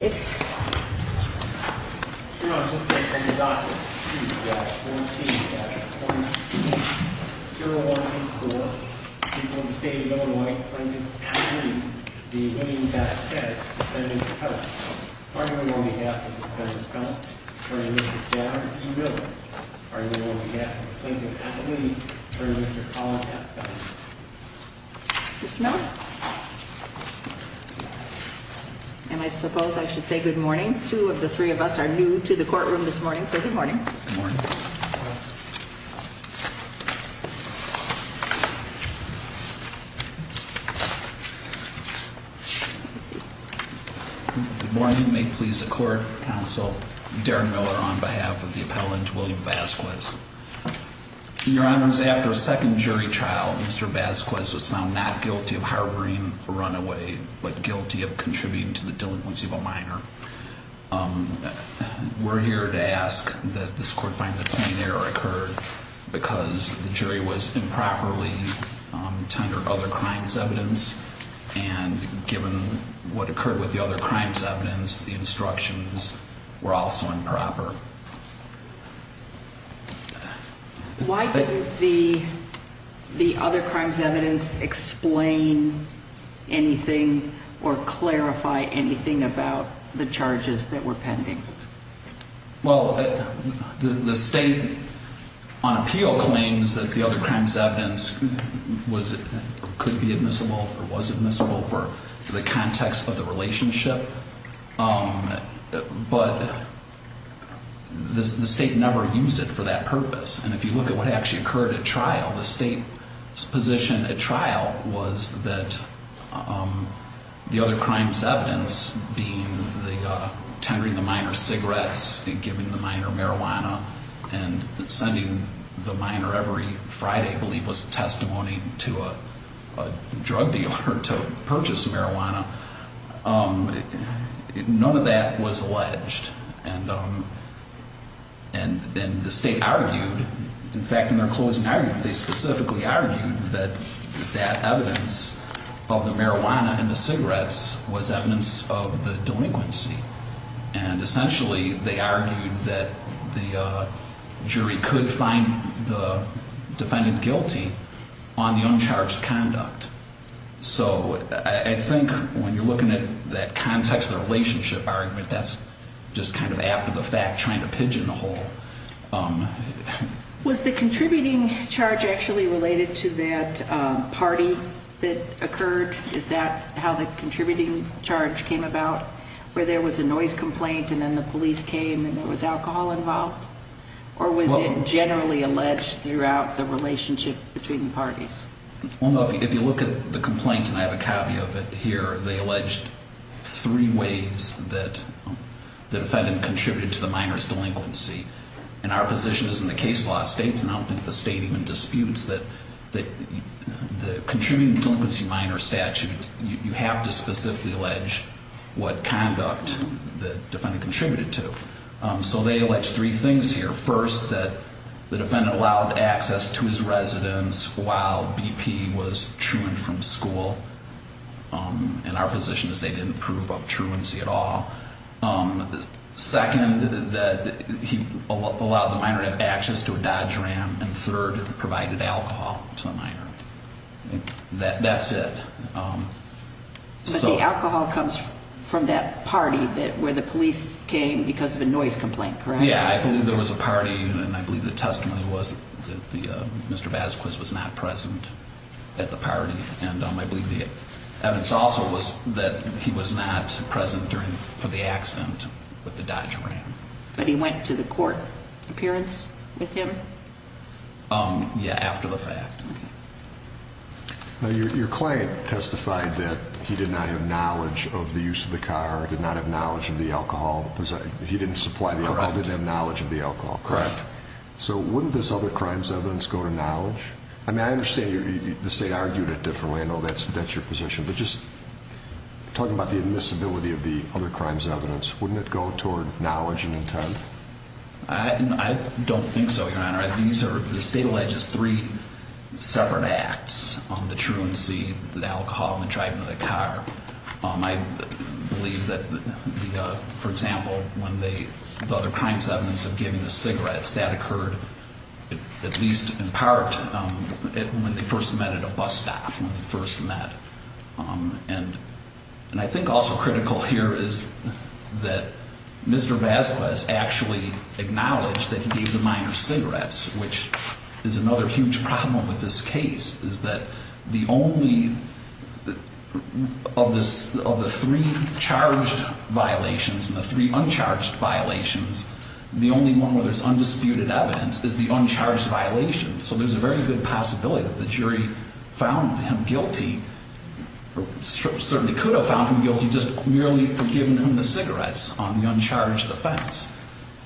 14-22-014, people of the state of Illinois, Plainton, Appalooney, v. Vazquez, defendant, appellant. Are you in on behalf of the defendant's appellant, attorney Mr. John E. Miller? Are you in on behalf of the Plainton Appalooney, attorney Mr. Colin Appadise? Mr. Miller? And I suppose I should say good morning. Two of the three of us are new to the courtroom this morning, so good morning. Good morning. Good morning. May it please the court, counsel, Darren Miller on behalf of the appellant, William Vazquez. Your honors, after a second jury trial, Mr. Vazquez was found not guilty of harboring a runaway, but guilty of contributing to the delinquency of a minor. We're here to ask that this court find the plain error occurred because the jury was improperly tendered other crimes evidence, and given what occurred with the other crimes evidence, the instructions were also improper. Why didn't the other crimes evidence explain anything or clarify anything about the charges that were pending? Well, the state on appeal claims that the other crimes evidence could be admissible or was admissible for the context of the relationship, but the state never used it for that purpose. And if you look at what actually occurred at trial, the state's position at trial was that the other crimes evidence, being the tendering of the minor's cigarettes and giving the minor marijuana and sending the minor every Friday, I believe was testimony to a drug dealer to purchase marijuana, none of that was alleged. And the state argued, in fact, in their closing argument, they specifically argued that that evidence of the marijuana and the cigarettes was evidence of the delinquency. And essentially, they argued that the jury could find the defendant guilty on the uncharged conduct. So I think when you're looking at that context of the relationship argument, that's just kind of after the fact, trying to pigeonhole. Was the contributing charge actually related to that party that occurred? Is that how the contributing charge came about, where there was a noise complaint and then the police came and there was alcohol involved? Or was it generally alleged throughout the relationship between the parties? If you look at the complaint, and I have a copy of it here, they alleged three ways that the defendant contributed to the minor's delinquency. And our position is in the case law states, and I don't think the state even disputes that the contributing to delinquency minor statute, you have to specifically allege what conduct the defendant contributed to. So they alleged three things here. First, that the defendant allowed access to his residence while BP was chewing from school. And our position is they didn't prove obtruancy at all. Second, that he allowed the minor to have access to a Dodge Ram. And third, provided alcohol to the minor. That's it. But the alcohol comes from that party where the police came because of a noise complaint, correct? Yeah, I believe there was a party, and I believe the testimony was that Mr. Vasquez was not present at the party. And I believe the evidence also was that he was not present for the accident with the Dodge Ram. But he went to the court appearance with him? Yeah, after the fact. Now, your client testified that he did not have knowledge of the use of the car, did not have knowledge of the alcohol. He didn't supply the alcohol, didn't have knowledge of the alcohol, correct? Correct. So wouldn't this other crimes evidence go to knowledge? I mean, I understand the state argued it differently. I know that's your position. But just talking about the admissibility of the other crimes evidence, wouldn't it go toward knowledge and intent? I don't think so, Your Honor. The state alleges three separate acts, the truancy, the alcohol, and the driving of the car. I believe that, for example, when the other crimes evidence of giving the cigarettes, that occurred at least in part when they first met at a bus stop, when they first met. And I think also critical here is that Mr. Vasquez actually acknowledged that he gave the minor cigarettes, which is another huge problem with this case, is that the only of the three charged violations and the three uncharged violations, the only one where there's undisputed evidence is the uncharged violation. So there's a very good possibility that the jury found him guilty or certainly could have found him guilty just merely for giving him the cigarettes on the uncharged offense.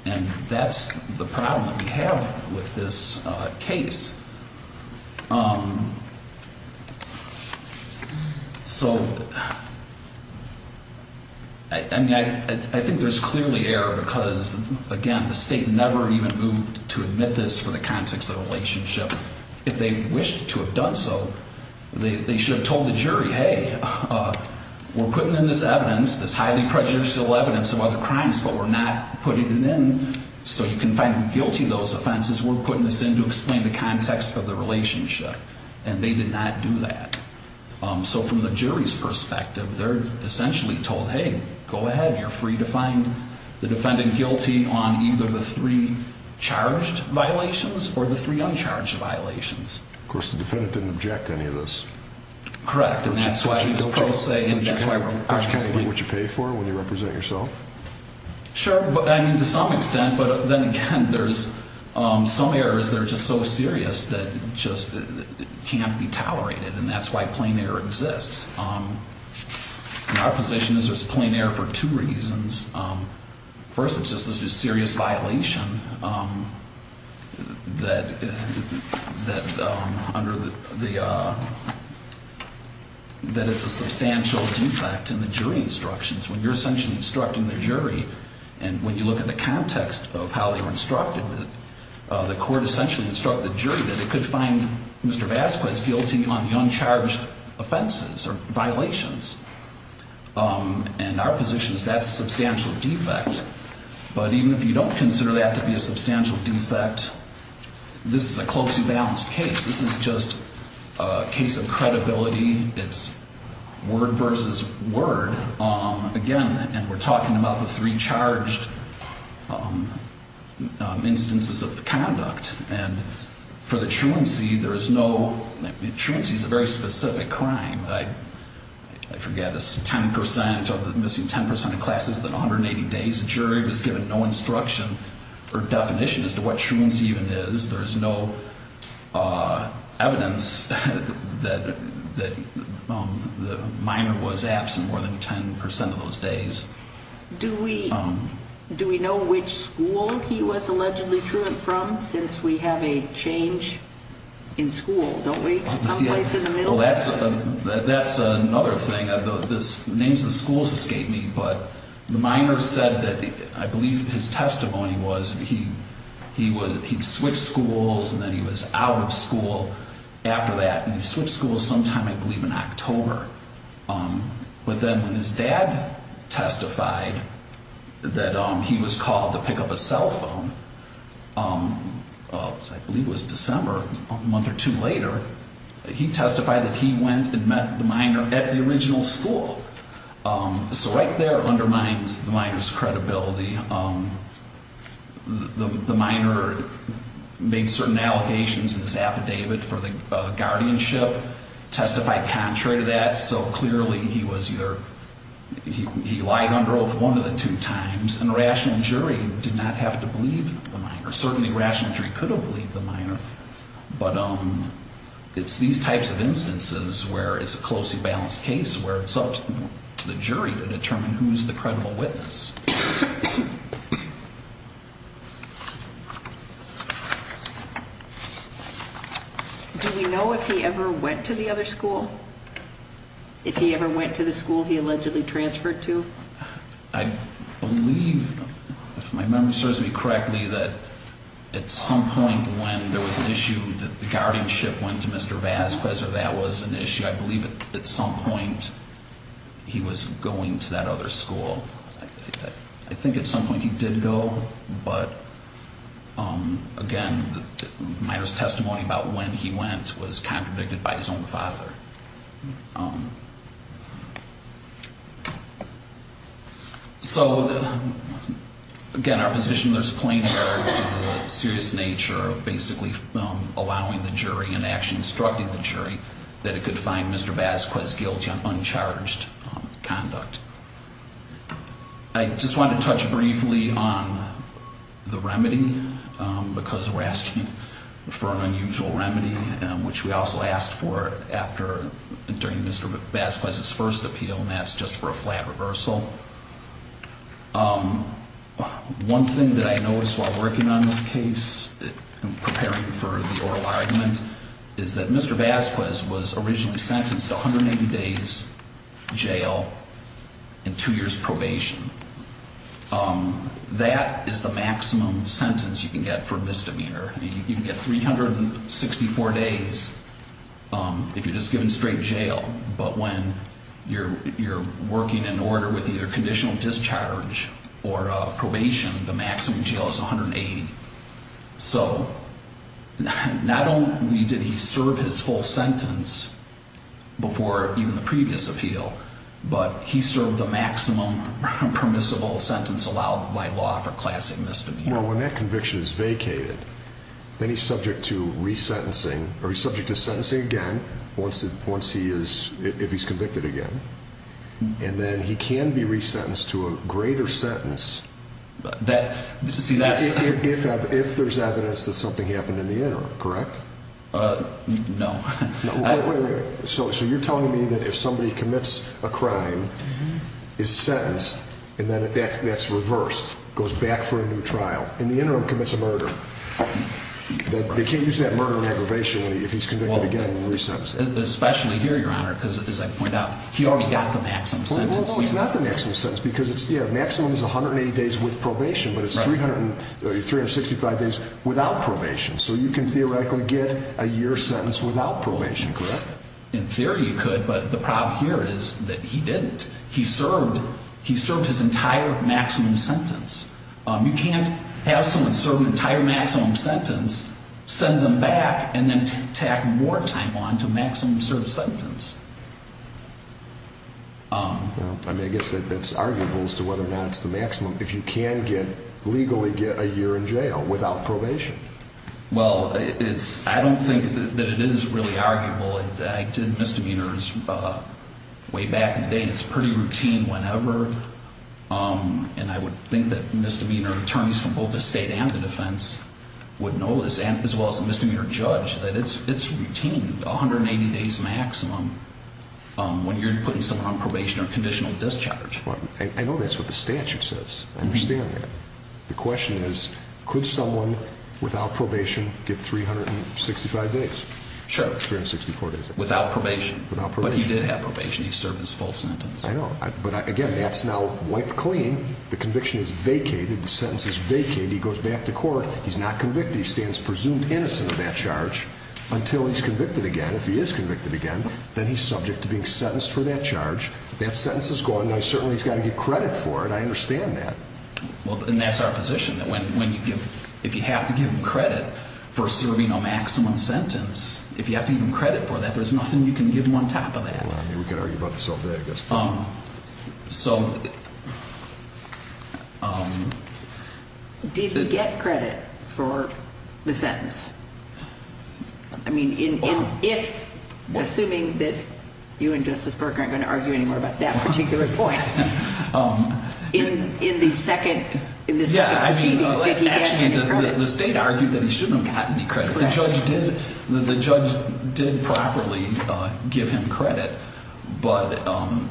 And that's the problem that we have with this case. So, I mean, I think there's clearly error because, again, the state never even moved to admit this for the context of the relationship. If they wished to have done so, they should have told the jury, hey, we're putting in this evidence, this highly prejudicial evidence of other crimes, but we're not putting it in so you can find him guilty of those offenses. We're putting this in to explain the context of the relationship. And they did not do that. So from the jury's perspective, they're essentially told, hey, go ahead. You're free to find the defendant guilty on either the three charged violations or the three uncharged violations. Of course, the defendant didn't object to any of this. Correct. And that's why he was pro se. Would you kind of do what you pay for when you represent yourself? Sure. I mean, to some extent. But then again, there's some errors that are just so serious that just can't be tolerated. And that's why plain error exists. In our position, there's plain error for two reasons. First, it's just a serious violation that is a substantial defect in the jury instructions. When you're essentially instructing the jury, and when you look at the context of how they were instructed, the court essentially instructed the jury that they could find Mr. Vasquez guilty on the uncharged offenses or violations. And our position is that's a substantial defect. But even if you don't consider that to be a substantial defect, this is a closely balanced case. This is just a case of credibility. It's word versus word. Again, and we're talking about the three charged instances of the conduct. And for the truancy, there is no – truancy is a very specific crime. I forget, it's 10% of the – missing 10% of classes within 180 days. The jury was given no instruction or definition as to what truancy even is. There is no evidence that the minor was absent more than 10% of those days. Do we know which school he was allegedly truant from since we have a change in school? Some place in the middle? Well, that's another thing. The names of the schools escape me, but the minor said that I believe his testimony was he switched schools and then he was out of school after that. And he switched schools sometime, I believe, in October. But then when his dad testified that he was called to pick up a cell phone, I believe it was December, a month or two later, he testified that he went and met the minor at the original school. So right there undermines the minor's credibility. The minor made certain allegations in his affidavit for the guardianship, testified contrary to that. So clearly he was either – he lied under oath one of the two times. And a rational jury did not have to believe the minor. Certainly rational jury could have believed the minor, but it's these types of instances where it's a closely balanced case where it's up to the jury to determine who's the credible witness. Do we know if he ever went to the other school? If he ever went to the school he allegedly transferred to? I believe, if my memory serves me correctly, that at some point when there was an issue that the guardianship went to Mr. Vasquez or that was an issue, I believe at some point he was going to that other school. I think at some point he did go, but again, the minor's testimony about when he went was contradicted by his own father. So again, our position, there's a plain error to the serious nature of basically allowing the jury and actually instructing the jury that it could find Mr. Vasquez guilty on uncharged conduct. I just wanted to touch briefly on the remedy because we're asking for an unusual remedy, which we also asked for during Mr. Vasquez's first appeal, and that's just for a flat reversal. One thing that I noticed while working on this case and preparing for the oral argument is that Mr. Vasquez was originally sentenced to 180 days jail and two years probation. That is the maximum sentence you can get for misdemeanor. You can get 364 days if you're just given straight jail, but when you're working in order with either conditional discharge or probation, the maximum jail is 180. So not only did he serve his whole sentence before even the previous appeal, but he served the maximum permissible sentence allowed by law for classic misdemeanor. When that conviction is vacated, then he's subject to resentencing, or he's subject to sentencing again if he's convicted again, and then he can be resentenced to a greater sentence if there's evidence that something happened in the interim, correct? No. So you're telling me that if somebody commits a crime, is sentenced, and then that's reversed, goes back for a new trial, in the interim commits a murder, they can't use that murder in aggravation if he's convicted again and resentenced. Especially here, Your Honor, because as I pointed out, he already got the maximum sentence. No, no, no, it's not the maximum sentence because the maximum is 180 days with probation, but it's 365 days without probation. So you can theoretically get a year's sentence without probation, correct? In theory you could, but the problem here is that he didn't. He served his entire maximum sentence. You can't have someone serve an entire maximum sentence, send them back, and then tack more time on to a maximum-served sentence. I mean, I guess that's arguable as to whether or not it's the maximum, if you can legally get a year in jail without probation. Well, I don't think that it is really arguable. I did misdemeanors way back in the day, and it's pretty routine whenever, and I would think that misdemeanor attorneys from both the state and the defense would know this, as well as the misdemeanor judge, that it's routine, 180 days maximum, when you're putting someone on probation or conditional discharge. I know that's what the statute says. I understand that. The question is, could someone without probation get 365 days? Sure. 365 days. Without probation. Without probation. But he did have probation. He served his full sentence. I know, but again, that's now wiped clean. The conviction is vacated. The sentence is vacated. He goes back to court. He's not convicted. He stands presumed innocent of that charge until he's convicted again. If he is convicted again, then he's subject to being sentenced for that charge. That sentence is gone. Now, certainly, he's got to get credit for it. I understand that. Well, and that's our position, that if you have to give him credit for serving a maximum sentence, if you have to give him credit for that, there's nothing you can give him on top of that. Well, I mean, we could argue about this all day, I guess. So. Did he get credit for the sentence? I mean, if, assuming that you and Justice Berger aren't going to argue anymore about that particular point, in the second proceedings, did he get any credit? Actually, the state argued that he shouldn't have gotten any credit. Correct. The judge did properly give him credit, but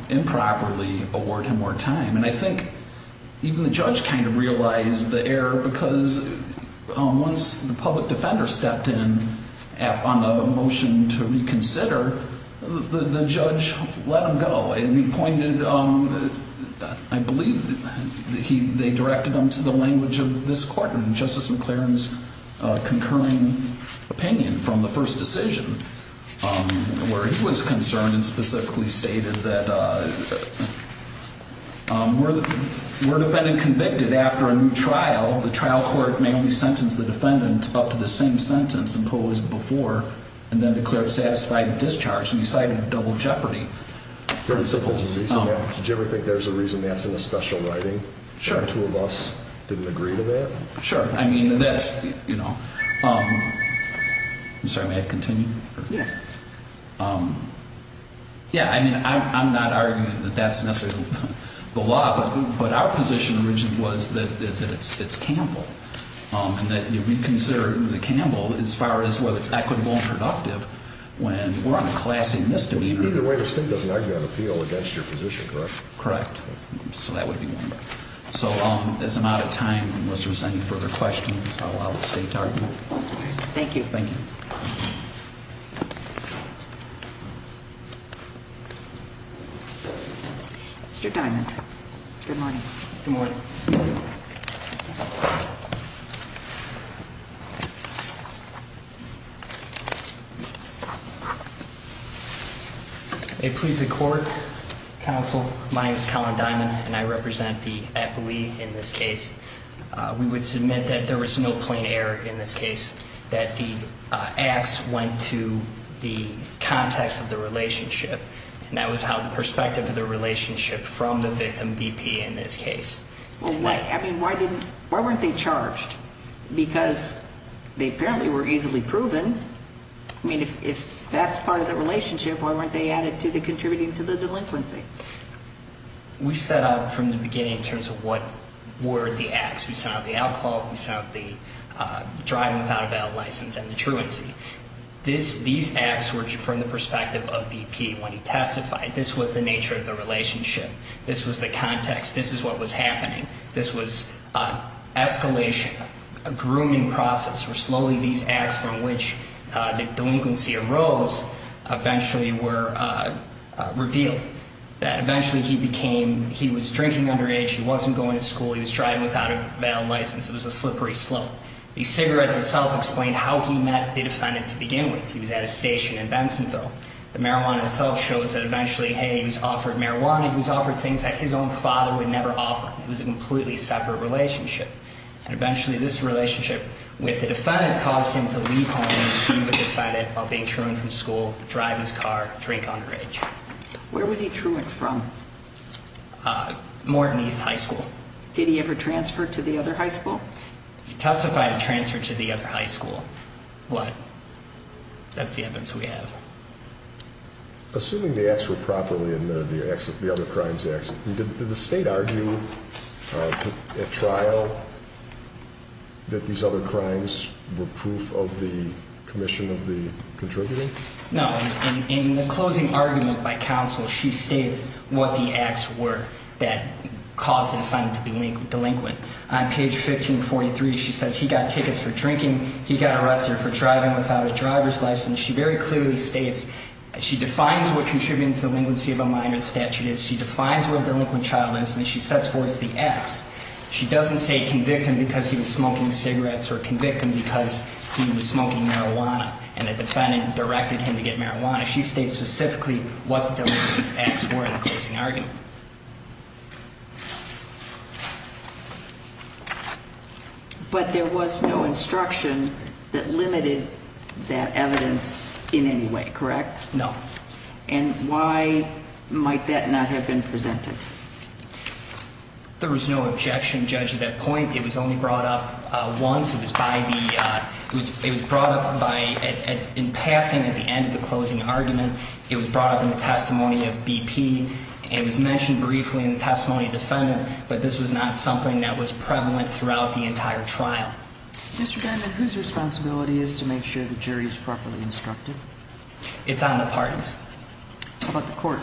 improperly award him more time. And I think even the judge kind of realized the error because once the public defender stepped in on a motion to reconsider, the judge let him go. And he pointed, I believe they directed him to the language of this court, and Justice McClaren's concurring opinion from the first decision, where he was concerned and specifically stated that, were the defendant convicted after a new trial, the trial court may only sentence the defendant up to the same sentence imposed before, and then declared satisfied with discharge. And he cited double jeopardy principles. Did you ever think there's a reason that's in the special writing? Sure. The two of us didn't agree to that? Sure. I mean, that's, you know. I'm sorry, may I continue? Yes. Yeah, I mean, I'm not arguing that that's necessarily the law, but our position originally was that it's Campbell. And that we consider Campbell as far as whether it's equitable and productive when we're on a class A misdemeanor. Either way, the state doesn't argue on appeal against your position, correct? Correct. So that would be one. So as I'm out of time, unless there's any further questions, I'll allow the state to argue. Thank you. Thank you. Mr. Diamond. Good morning. Good morning. Thank you. May it please the court, counsel, my name is Collin Diamond, and I represent the appellee in this case. We would submit that there was no plain error in this case, that the acts went to the context of the relationship. And that was how the perspective of the relationship from the victim BP in this case. I mean, why weren't they charged? Because they apparently were easily proven. I mean, if that's part of the relationship, why weren't they added to the contributing to the delinquency? We set out from the beginning in terms of what were the acts. We set out the alcohol, we set out the driving without a valid license, and the truancy. These acts were from the perspective of BP when he testified. This was the nature of the relationship. This was the context. This is what was happening. This was escalation, a grooming process where slowly these acts from which the delinquency arose eventually were revealed. That eventually he became, he was drinking underage, he wasn't going to school, he was driving without a valid license. It was a slippery slope. The cigarettes itself explained how he met the defendant to begin with. He was at a station in Bensonville. The marijuana itself shows that eventually, hey, he was offered marijuana, he was offered things that his own father would never offer. It was a completely separate relationship. And eventually this relationship with the defendant caused him to leave home and become a defendant while being truant from school, drive his car, drink underage. Where was he truant from? Morton East High School. Did he ever transfer to the other high school? He testified to transfer to the other high school. What? That's the evidence we have. Assuming the acts were properly admitted, the other crimes acts, did the state argue at trial that these other crimes were proof of the commission of the contributing? No. In the closing argument by counsel, she states what the acts were that caused the defendant to be delinquent. On page 1543, she says he got tickets for drinking, he got arrested for driving without a driver's license. She very clearly states she defines what contributing to the delinquency of a minor statute is. She defines what a delinquent child is and she sets forth the acts. She doesn't say convict him because he was smoking cigarettes or convict him because he was smoking marijuana and the defendant directed him to get marijuana. She states specifically what the delinquents acts were in the closing argument. But there was no instruction that limited that evidence in any way, correct? No. And why might that not have been presented? There was no objection judged at that point. It was only brought up once. It was by the it was brought up by in passing at the end of the closing argument. It was brought up in the testimony of BP. It was mentioned briefly in the testimony of the defendant. But this was not something that was prevalent throughout the entire trial. Mr. Benjamin, whose responsibility is to make sure the jury is properly instructed? It's on the parties. How about the court?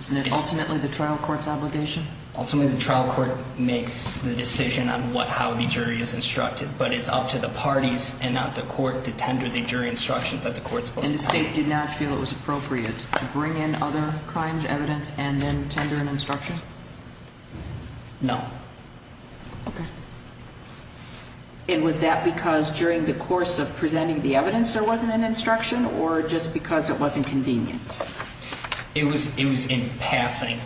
Isn't it ultimately the trial court's obligation? Ultimately, the trial court makes the decision on what how the jury is instructed. But it's up to the parties and not the court to tender the jury instructions that the court is supposed to take. And the state did not feel it was appropriate to bring in other crimes, evidence, and then tender an instruction? No. Okay. And was that because during the course of presenting the evidence there wasn't an instruction or just because it wasn't convenient? It was in passing.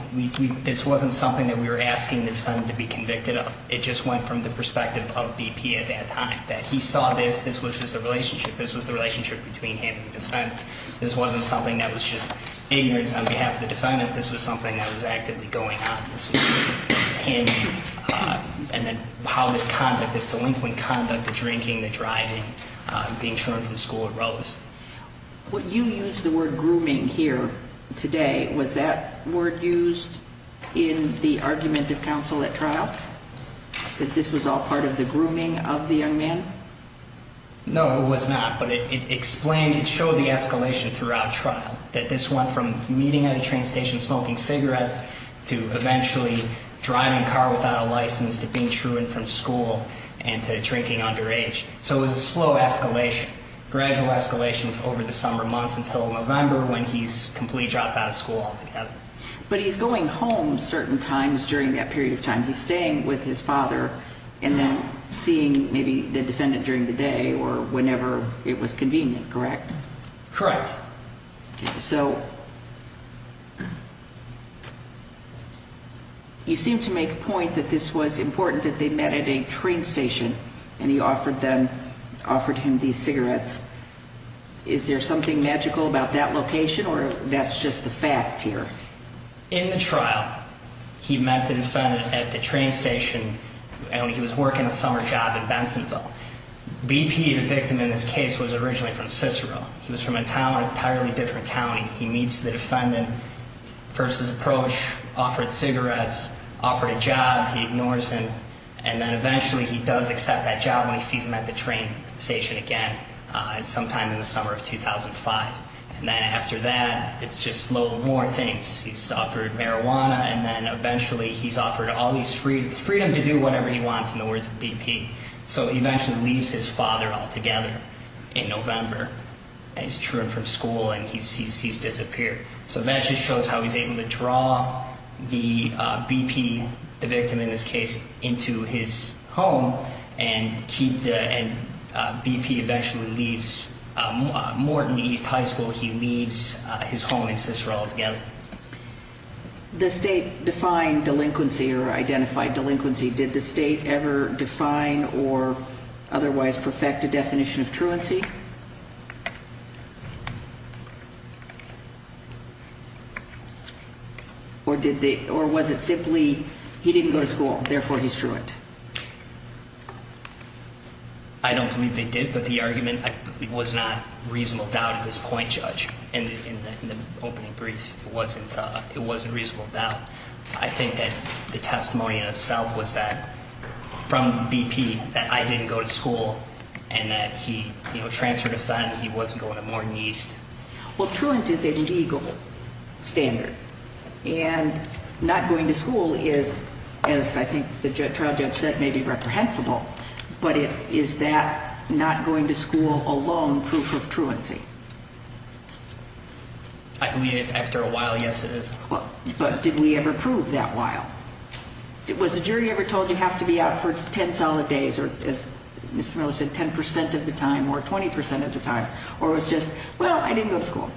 This wasn't something that we were asking the defendant to be convicted of. It just went from the perspective of BP at that time. The fact that he saw this, this was just a relationship. This was the relationship between him and the defendant. This wasn't something that was just ignorance on behalf of the defendant. This was something that was actively going on. This was him. And then how this conduct, this delinquent conduct, the drinking, the driving, being churned from school, it rose. When you used the word grooming here today, was that word used in the argument of counsel at trial? That this was all part of the grooming of the young man? No, it was not. But it explained, it showed the escalation throughout trial, that this went from meeting at a train station, smoking cigarettes, to eventually driving a car without a license, to being churned from school, and to drinking underage. So it was a slow escalation, gradual escalation over the summer months until November when he's completely dropped out of school altogether. But he's going home certain times during that period of time. He's staying with his father and then seeing maybe the defendant during the day or whenever it was convenient, correct? Correct. So you seem to make a point that this was important that they met at a train station and he offered them, offered him these cigarettes. Is there something magical about that location or that's just the fact here? In the trial, he met the defendant at the train station and he was working a summer job in Bensonville. BP, the victim in this case, was originally from Cicero. He was from an entirely different county. He meets the defendant, first his approach, offered cigarettes, offered a job, he ignores him, and then eventually he does accept that job when he sees him at the train station again sometime in the summer of 2005. And then after that, it's just a load of more things. He's offered marijuana and then eventually he's offered all this freedom to do whatever he wants in the words of BP. So he eventually leaves his father altogether in November and he's truant from school and he's disappeared. So that just shows how he's able to draw the BP, the victim in this case, into his home and BP eventually leaves Morton East High School. He leaves his home in Cicero altogether. The state defined delinquency or identified delinquency. Did the state ever define or otherwise perfect a definition of truancy? Or was it simply he didn't go to school, therefore he's truant? I don't believe they did, but the argument was not reasonable doubt at this point, Judge, in the opening brief. It wasn't reasonable doubt. I think that the testimony in itself was that from BP that I didn't go to school and that he, you know, transferred a fine and he wasn't going to Morton East. Well, truant is a legal standard and not going to school is, as I think the trial judge said, maybe reprehensible, but is that not going to school alone proof of truancy? I believe after a while, yes, it is. But did we ever prove that while? Was the jury ever told you have to be out for 10 solid days or, as Mr. Miller said, 10% of the time or 20% of the time, or it was just, well, I didn't go to school?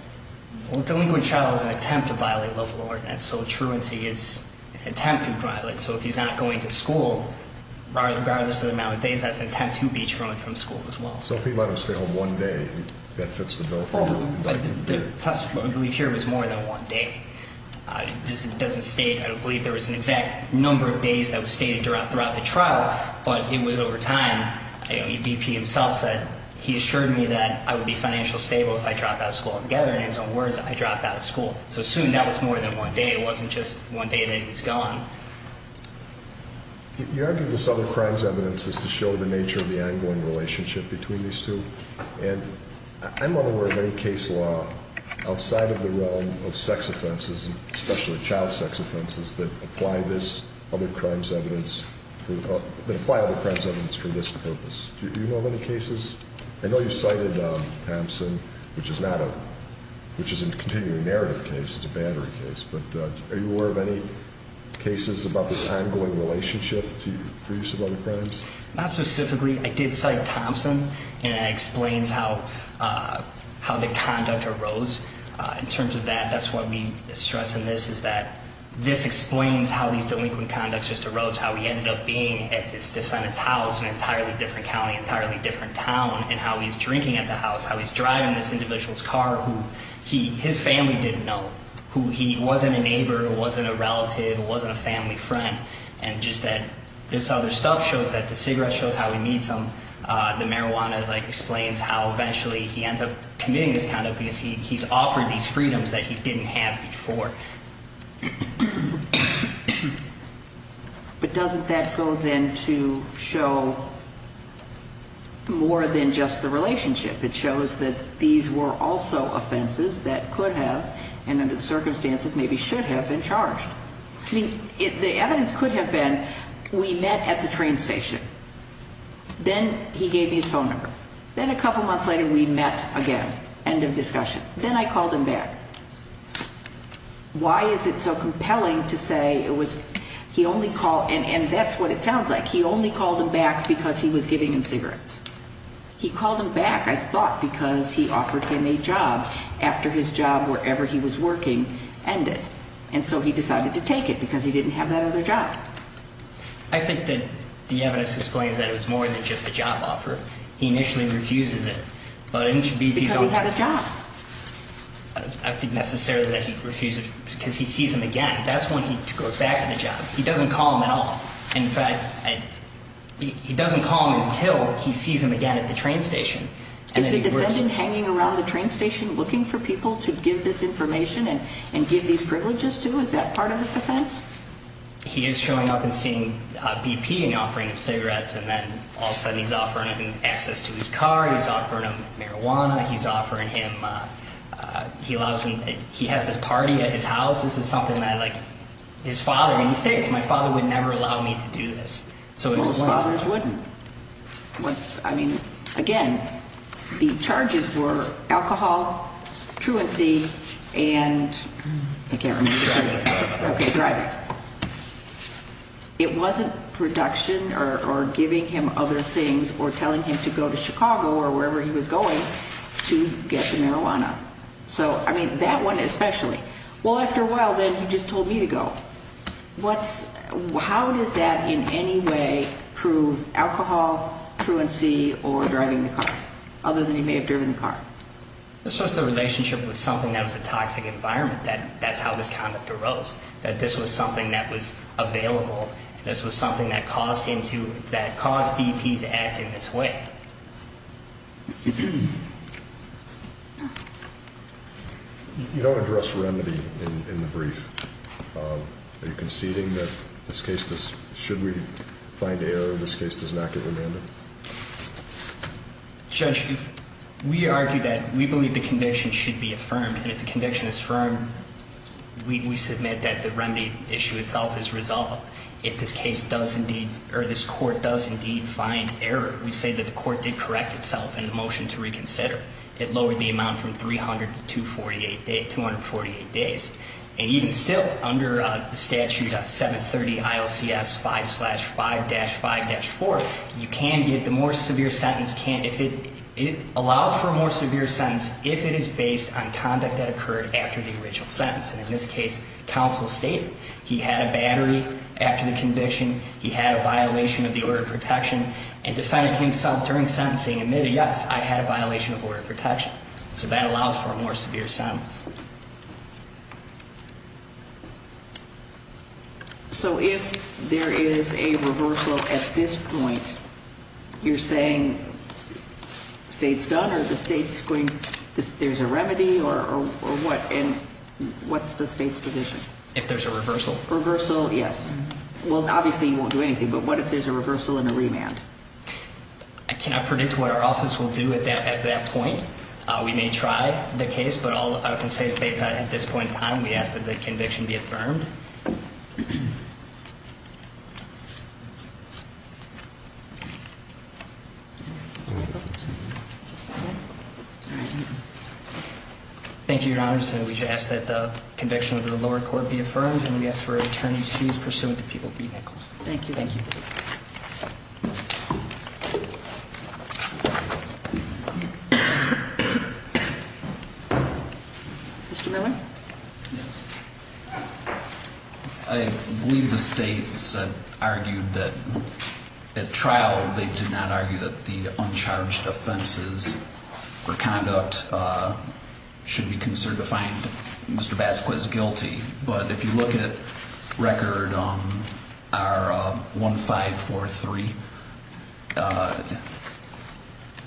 Well, delinquent trial is an attempt to violate love of the Lord, and so truancy is an attempt to violate. So if he's not going to school, regardless of the amount of days, that's an attempt to be truant from school as well. So if he let him stay home one day, that fits the bill for you? The test, I believe here, was more than one day. This doesn't state, I don't believe there was an exact number of days that was stated throughout the trial, but it was over time. BP himself said he assured me that I would be financially stable if I dropped out of school altogether, and in his own words, I dropped out of school. So soon that was more than one day. It wasn't just one day that he was gone. You argue this other crime's evidence is to show the nature of the ongoing relationship between these two, and I'm not aware of any case law outside of the realm of sex offenses, especially child sex offenses, that apply other crime's evidence for this purpose. Do you know of any cases? I know you cited Thompson, which is a continuing narrative case. It's a battery case. But are you aware of any cases about this ongoing relationship for use of other crimes? Not specifically. I did cite Thompson, and it explains how the conduct arose. In terms of that, that's what we stress in this, is that this explains how these delinquent conducts just arose, how he ended up being at this defendant's house in an entirely different county, an entirely different town, and how he's drinking at the house, how he's driving this individual's car who his family didn't know, who he wasn't a neighbor, wasn't a relative, wasn't a family friend, and just that this other stuff shows that the cigarette shows how he needs them. The marijuana explains how eventually he ends up committing this conduct because he's offered these freedoms that he didn't have before. But doesn't that go then to show more than just the relationship? It shows that these were also offenses that could have, and under the circumstances maybe should have, been charged. I mean, the evidence could have been we met at the train station. Then he gave me his phone number. Then a couple months later we met again. End of discussion. Then I called him back. Why is it so compelling to say it was, he only called, and that's what it sounds like, he only called him back because he was giving him cigarettes. He called him back, I thought, because he offered him a job after his job wherever he was working ended. And so he decided to take it because he didn't have that other job. I think that the evidence explains that it was more than just a job offer. He initially refuses it. Because he had a job. I think necessarily that he refused it because he sees him again. That's when he goes back to the job. He doesn't call him at all. In fact, he doesn't call him until he sees him again at the train station. Is the defendant hanging around the train station looking for people to give this information and give these privileges to? Is that part of this offense? He is showing up and seeing BP and offering him cigarettes. And then all of a sudden he's offering him access to his car. He's offering him marijuana. He's offering him, he has this party at his house. This is something that his father, and he states, my father would never allow me to do this. Most fathers wouldn't. I mean, again, the charges were alcohol, truancy, and I can't remember. Driving. Okay, driving. It wasn't production or giving him other things or telling him to go to Chicago or wherever he was going to get the marijuana. So, I mean, that one especially. Well, after a while then he just told me to go. How does that in any way prove alcohol, truancy, or driving the car, other than he may have driven the car? It's just the relationship with something that was a toxic environment. That's how this conduct arose, that this was something that was available. This was something that caused him to, that caused BP to act in this way. You don't address remedy in the brief. Are you conceding that this case, should we find error, this case does not get remanded? Judge, we argue that we believe the conviction should be affirmed, and if the conviction is affirmed, we submit that the remedy issue itself is resolved. If this case does indeed, or this court does indeed find error, we say that the court did correct itself. And the motion to reconsider, it lowered the amount from 300 to 248 days. And even still, under the statute of 730 ILCS 5-5-4, you can get the more severe sentence. It allows for a more severe sentence if it is based on conduct that occurred after the original sentence. And in this case, counsel stated he had a battery after the conviction. He had a violation of the order of protection. And defended himself during sentencing, admitted, yes, I had a violation of order of protection. So that allows for a more severe sentence. So if there is a reversal at this point, you're saying the state's done, or the state's going, there's a remedy, or what? And what's the state's position? If there's a reversal. Reversal, yes. Well, obviously you won't do anything. But what if there's a reversal and a remand? I cannot predict what our office will do at that point. We may try the case. But all I can say is based on at this point in time, we ask that the conviction be affirmed. Thank you, Your Honor. And we ask that the conviction of the lower court be affirmed. And we ask for attorney's fees pursuant to People v. Nichols. Thank you. Thank you. Mr. Miller? Yes. I believe the state's argued that at trial they did not argue that the uncharged offenses for conduct should be considered to find Mr. Vasquez guilty. But if you look at Record 1543,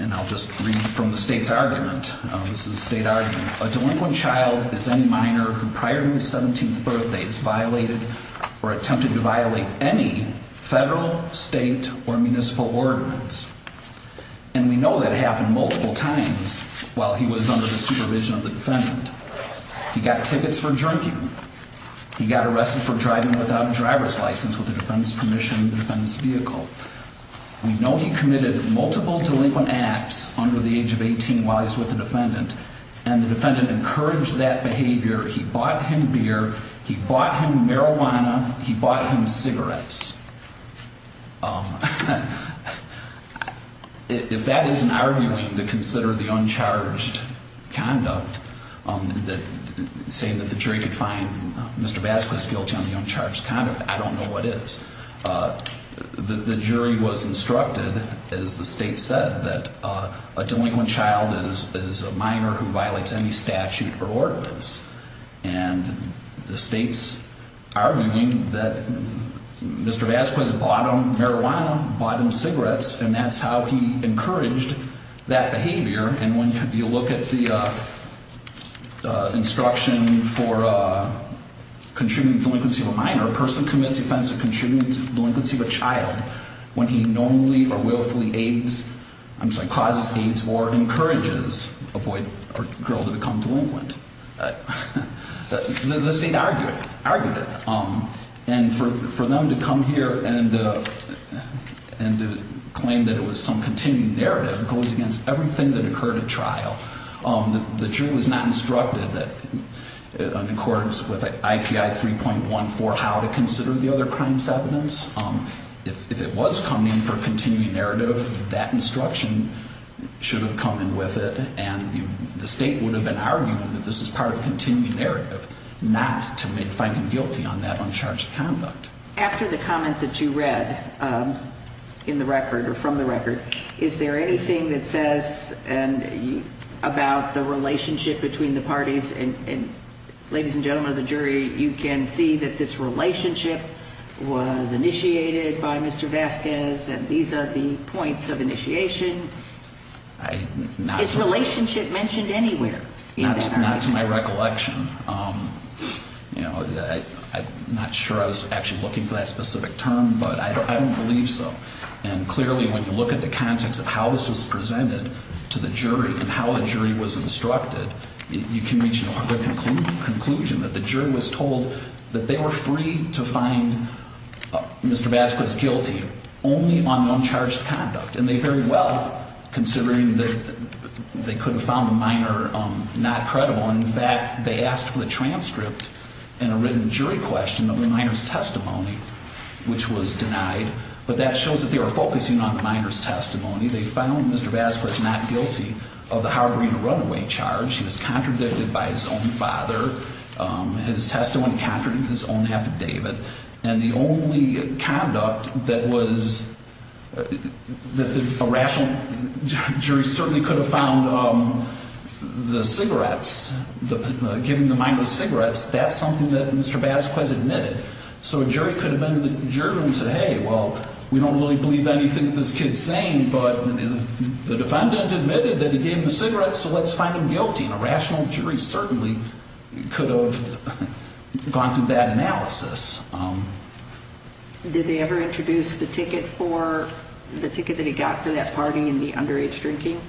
and I'll just read from the state's argument, this is the state argument. A delinquent child is any minor who prior to his 17th birthday has violated or attempted to violate any federal, state, or municipal ordinance. And we know that happened multiple times while he was under the supervision of the defendant. He got tickets for drinking. He got arrested for driving without a driver's license with the defendant's permission in the defendant's vehicle. We know he committed multiple delinquent acts under the age of 18 while he was with the defendant. And the defendant encouraged that behavior. He bought him beer. He bought him marijuana. He bought him cigarettes. If that isn't arguing to consider the uncharged conduct, saying that the jury could find Mr. Vasquez guilty on the uncharged conduct, I don't know what is. The jury was instructed, as the state said, that a delinquent child is a minor who violates any statute or ordinance. And the state's arguing that Mr. Vasquez bought him marijuana, bought him cigarettes, and that's how he encouraged that behavior. And when you look at the instruction for contributing to the delinquency of a minor, a person commits the offense of contributing to the delinquency of a child when he normally or willfully aids, I'm sorry, causes aids or encourages a boy or girl to become delinquent. The state argued it. And for them to come here and to claim that it was some continuing narrative goes against everything that occurred at trial. The jury was not instructed in accordance with IPI 3.14 how to consider the other crimes evidence. If it was coming for continuing narrative, that instruction should have come in with it. And the state would have been arguing that this is part of continuing narrative, not to make finding guilty on that uncharged conduct. After the comment that you read in the record or from the record, is there anything that says and about the relationship between the parties? And ladies and gentlemen of the jury, you can see that this relationship was initiated by Mr. Vasquez. And these are the points of initiation. It's relationship mentioned anywhere. Not to my recollection. I'm not sure I was actually looking for that specific term, but I don't believe so. And clearly, when you look at the context of how this was presented to the jury and how the jury was instructed, you can reach the conclusion that the jury was told that they were free to find Mr. Vasquez guilty only on uncharged conduct. And they very well, considering that they could have found the minor not credible. In fact, they asked for the transcript in a written jury question of the minor's testimony, which was denied. But that shows that they were focusing on the minor's testimony. They found Mr. Vasquez not guilty of the harboring a runaway charge. He was contradicted by his own father. His testimony contradicted his own affidavit. And the only conduct that was, that a rational jury certainly could have found the cigarettes, giving the minor cigarettes, that's something that Mr. Vasquez admitted. So a jury could have been in the jury room and said, hey, well, we don't really believe anything that this kid's saying, but the defendant admitted that he gave him the cigarettes, so let's find him guilty. And a rational jury certainly could have gone through that analysis. Did they ever introduce the ticket for, the ticket that he got for that party in the underage drinking?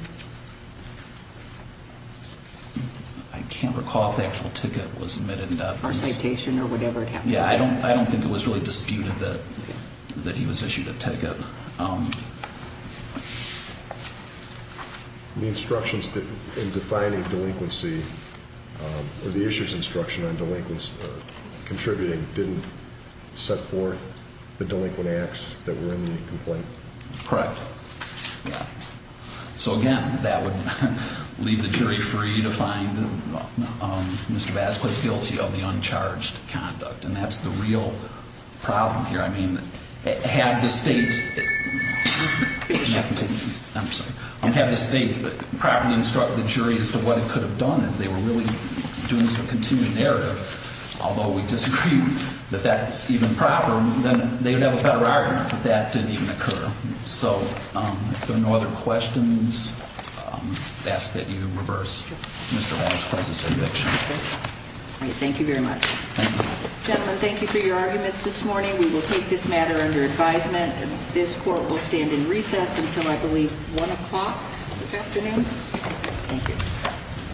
I can't recall if the actual ticket was admitted or not. Or citation or whatever it happened to be. Yeah, I don't think it was really disputed that he was issued a ticket. The instructions in defining delinquency, or the issuer's instruction on delinquency, contributing, didn't set forth the delinquent acts that were in the complaint? Correct. So again, that would leave the jury free to find Mr. Vasquez guilty of the uncharged conduct. And that's the real problem here. I mean, had the state properly instructed the jury as to what it could have done if they were really doing some continued narrative, although we disagree that that's even proper, then they would have a better argument that that didn't even occur. So if there are no other questions, I ask that you reverse Mr. Vasquez's conviction. Thank you very much. Gentlemen, thank you for your arguments this morning. We will take this matter under advisement. This court will stand in recess until, I believe, 1 o'clock this afternoon. Thank you.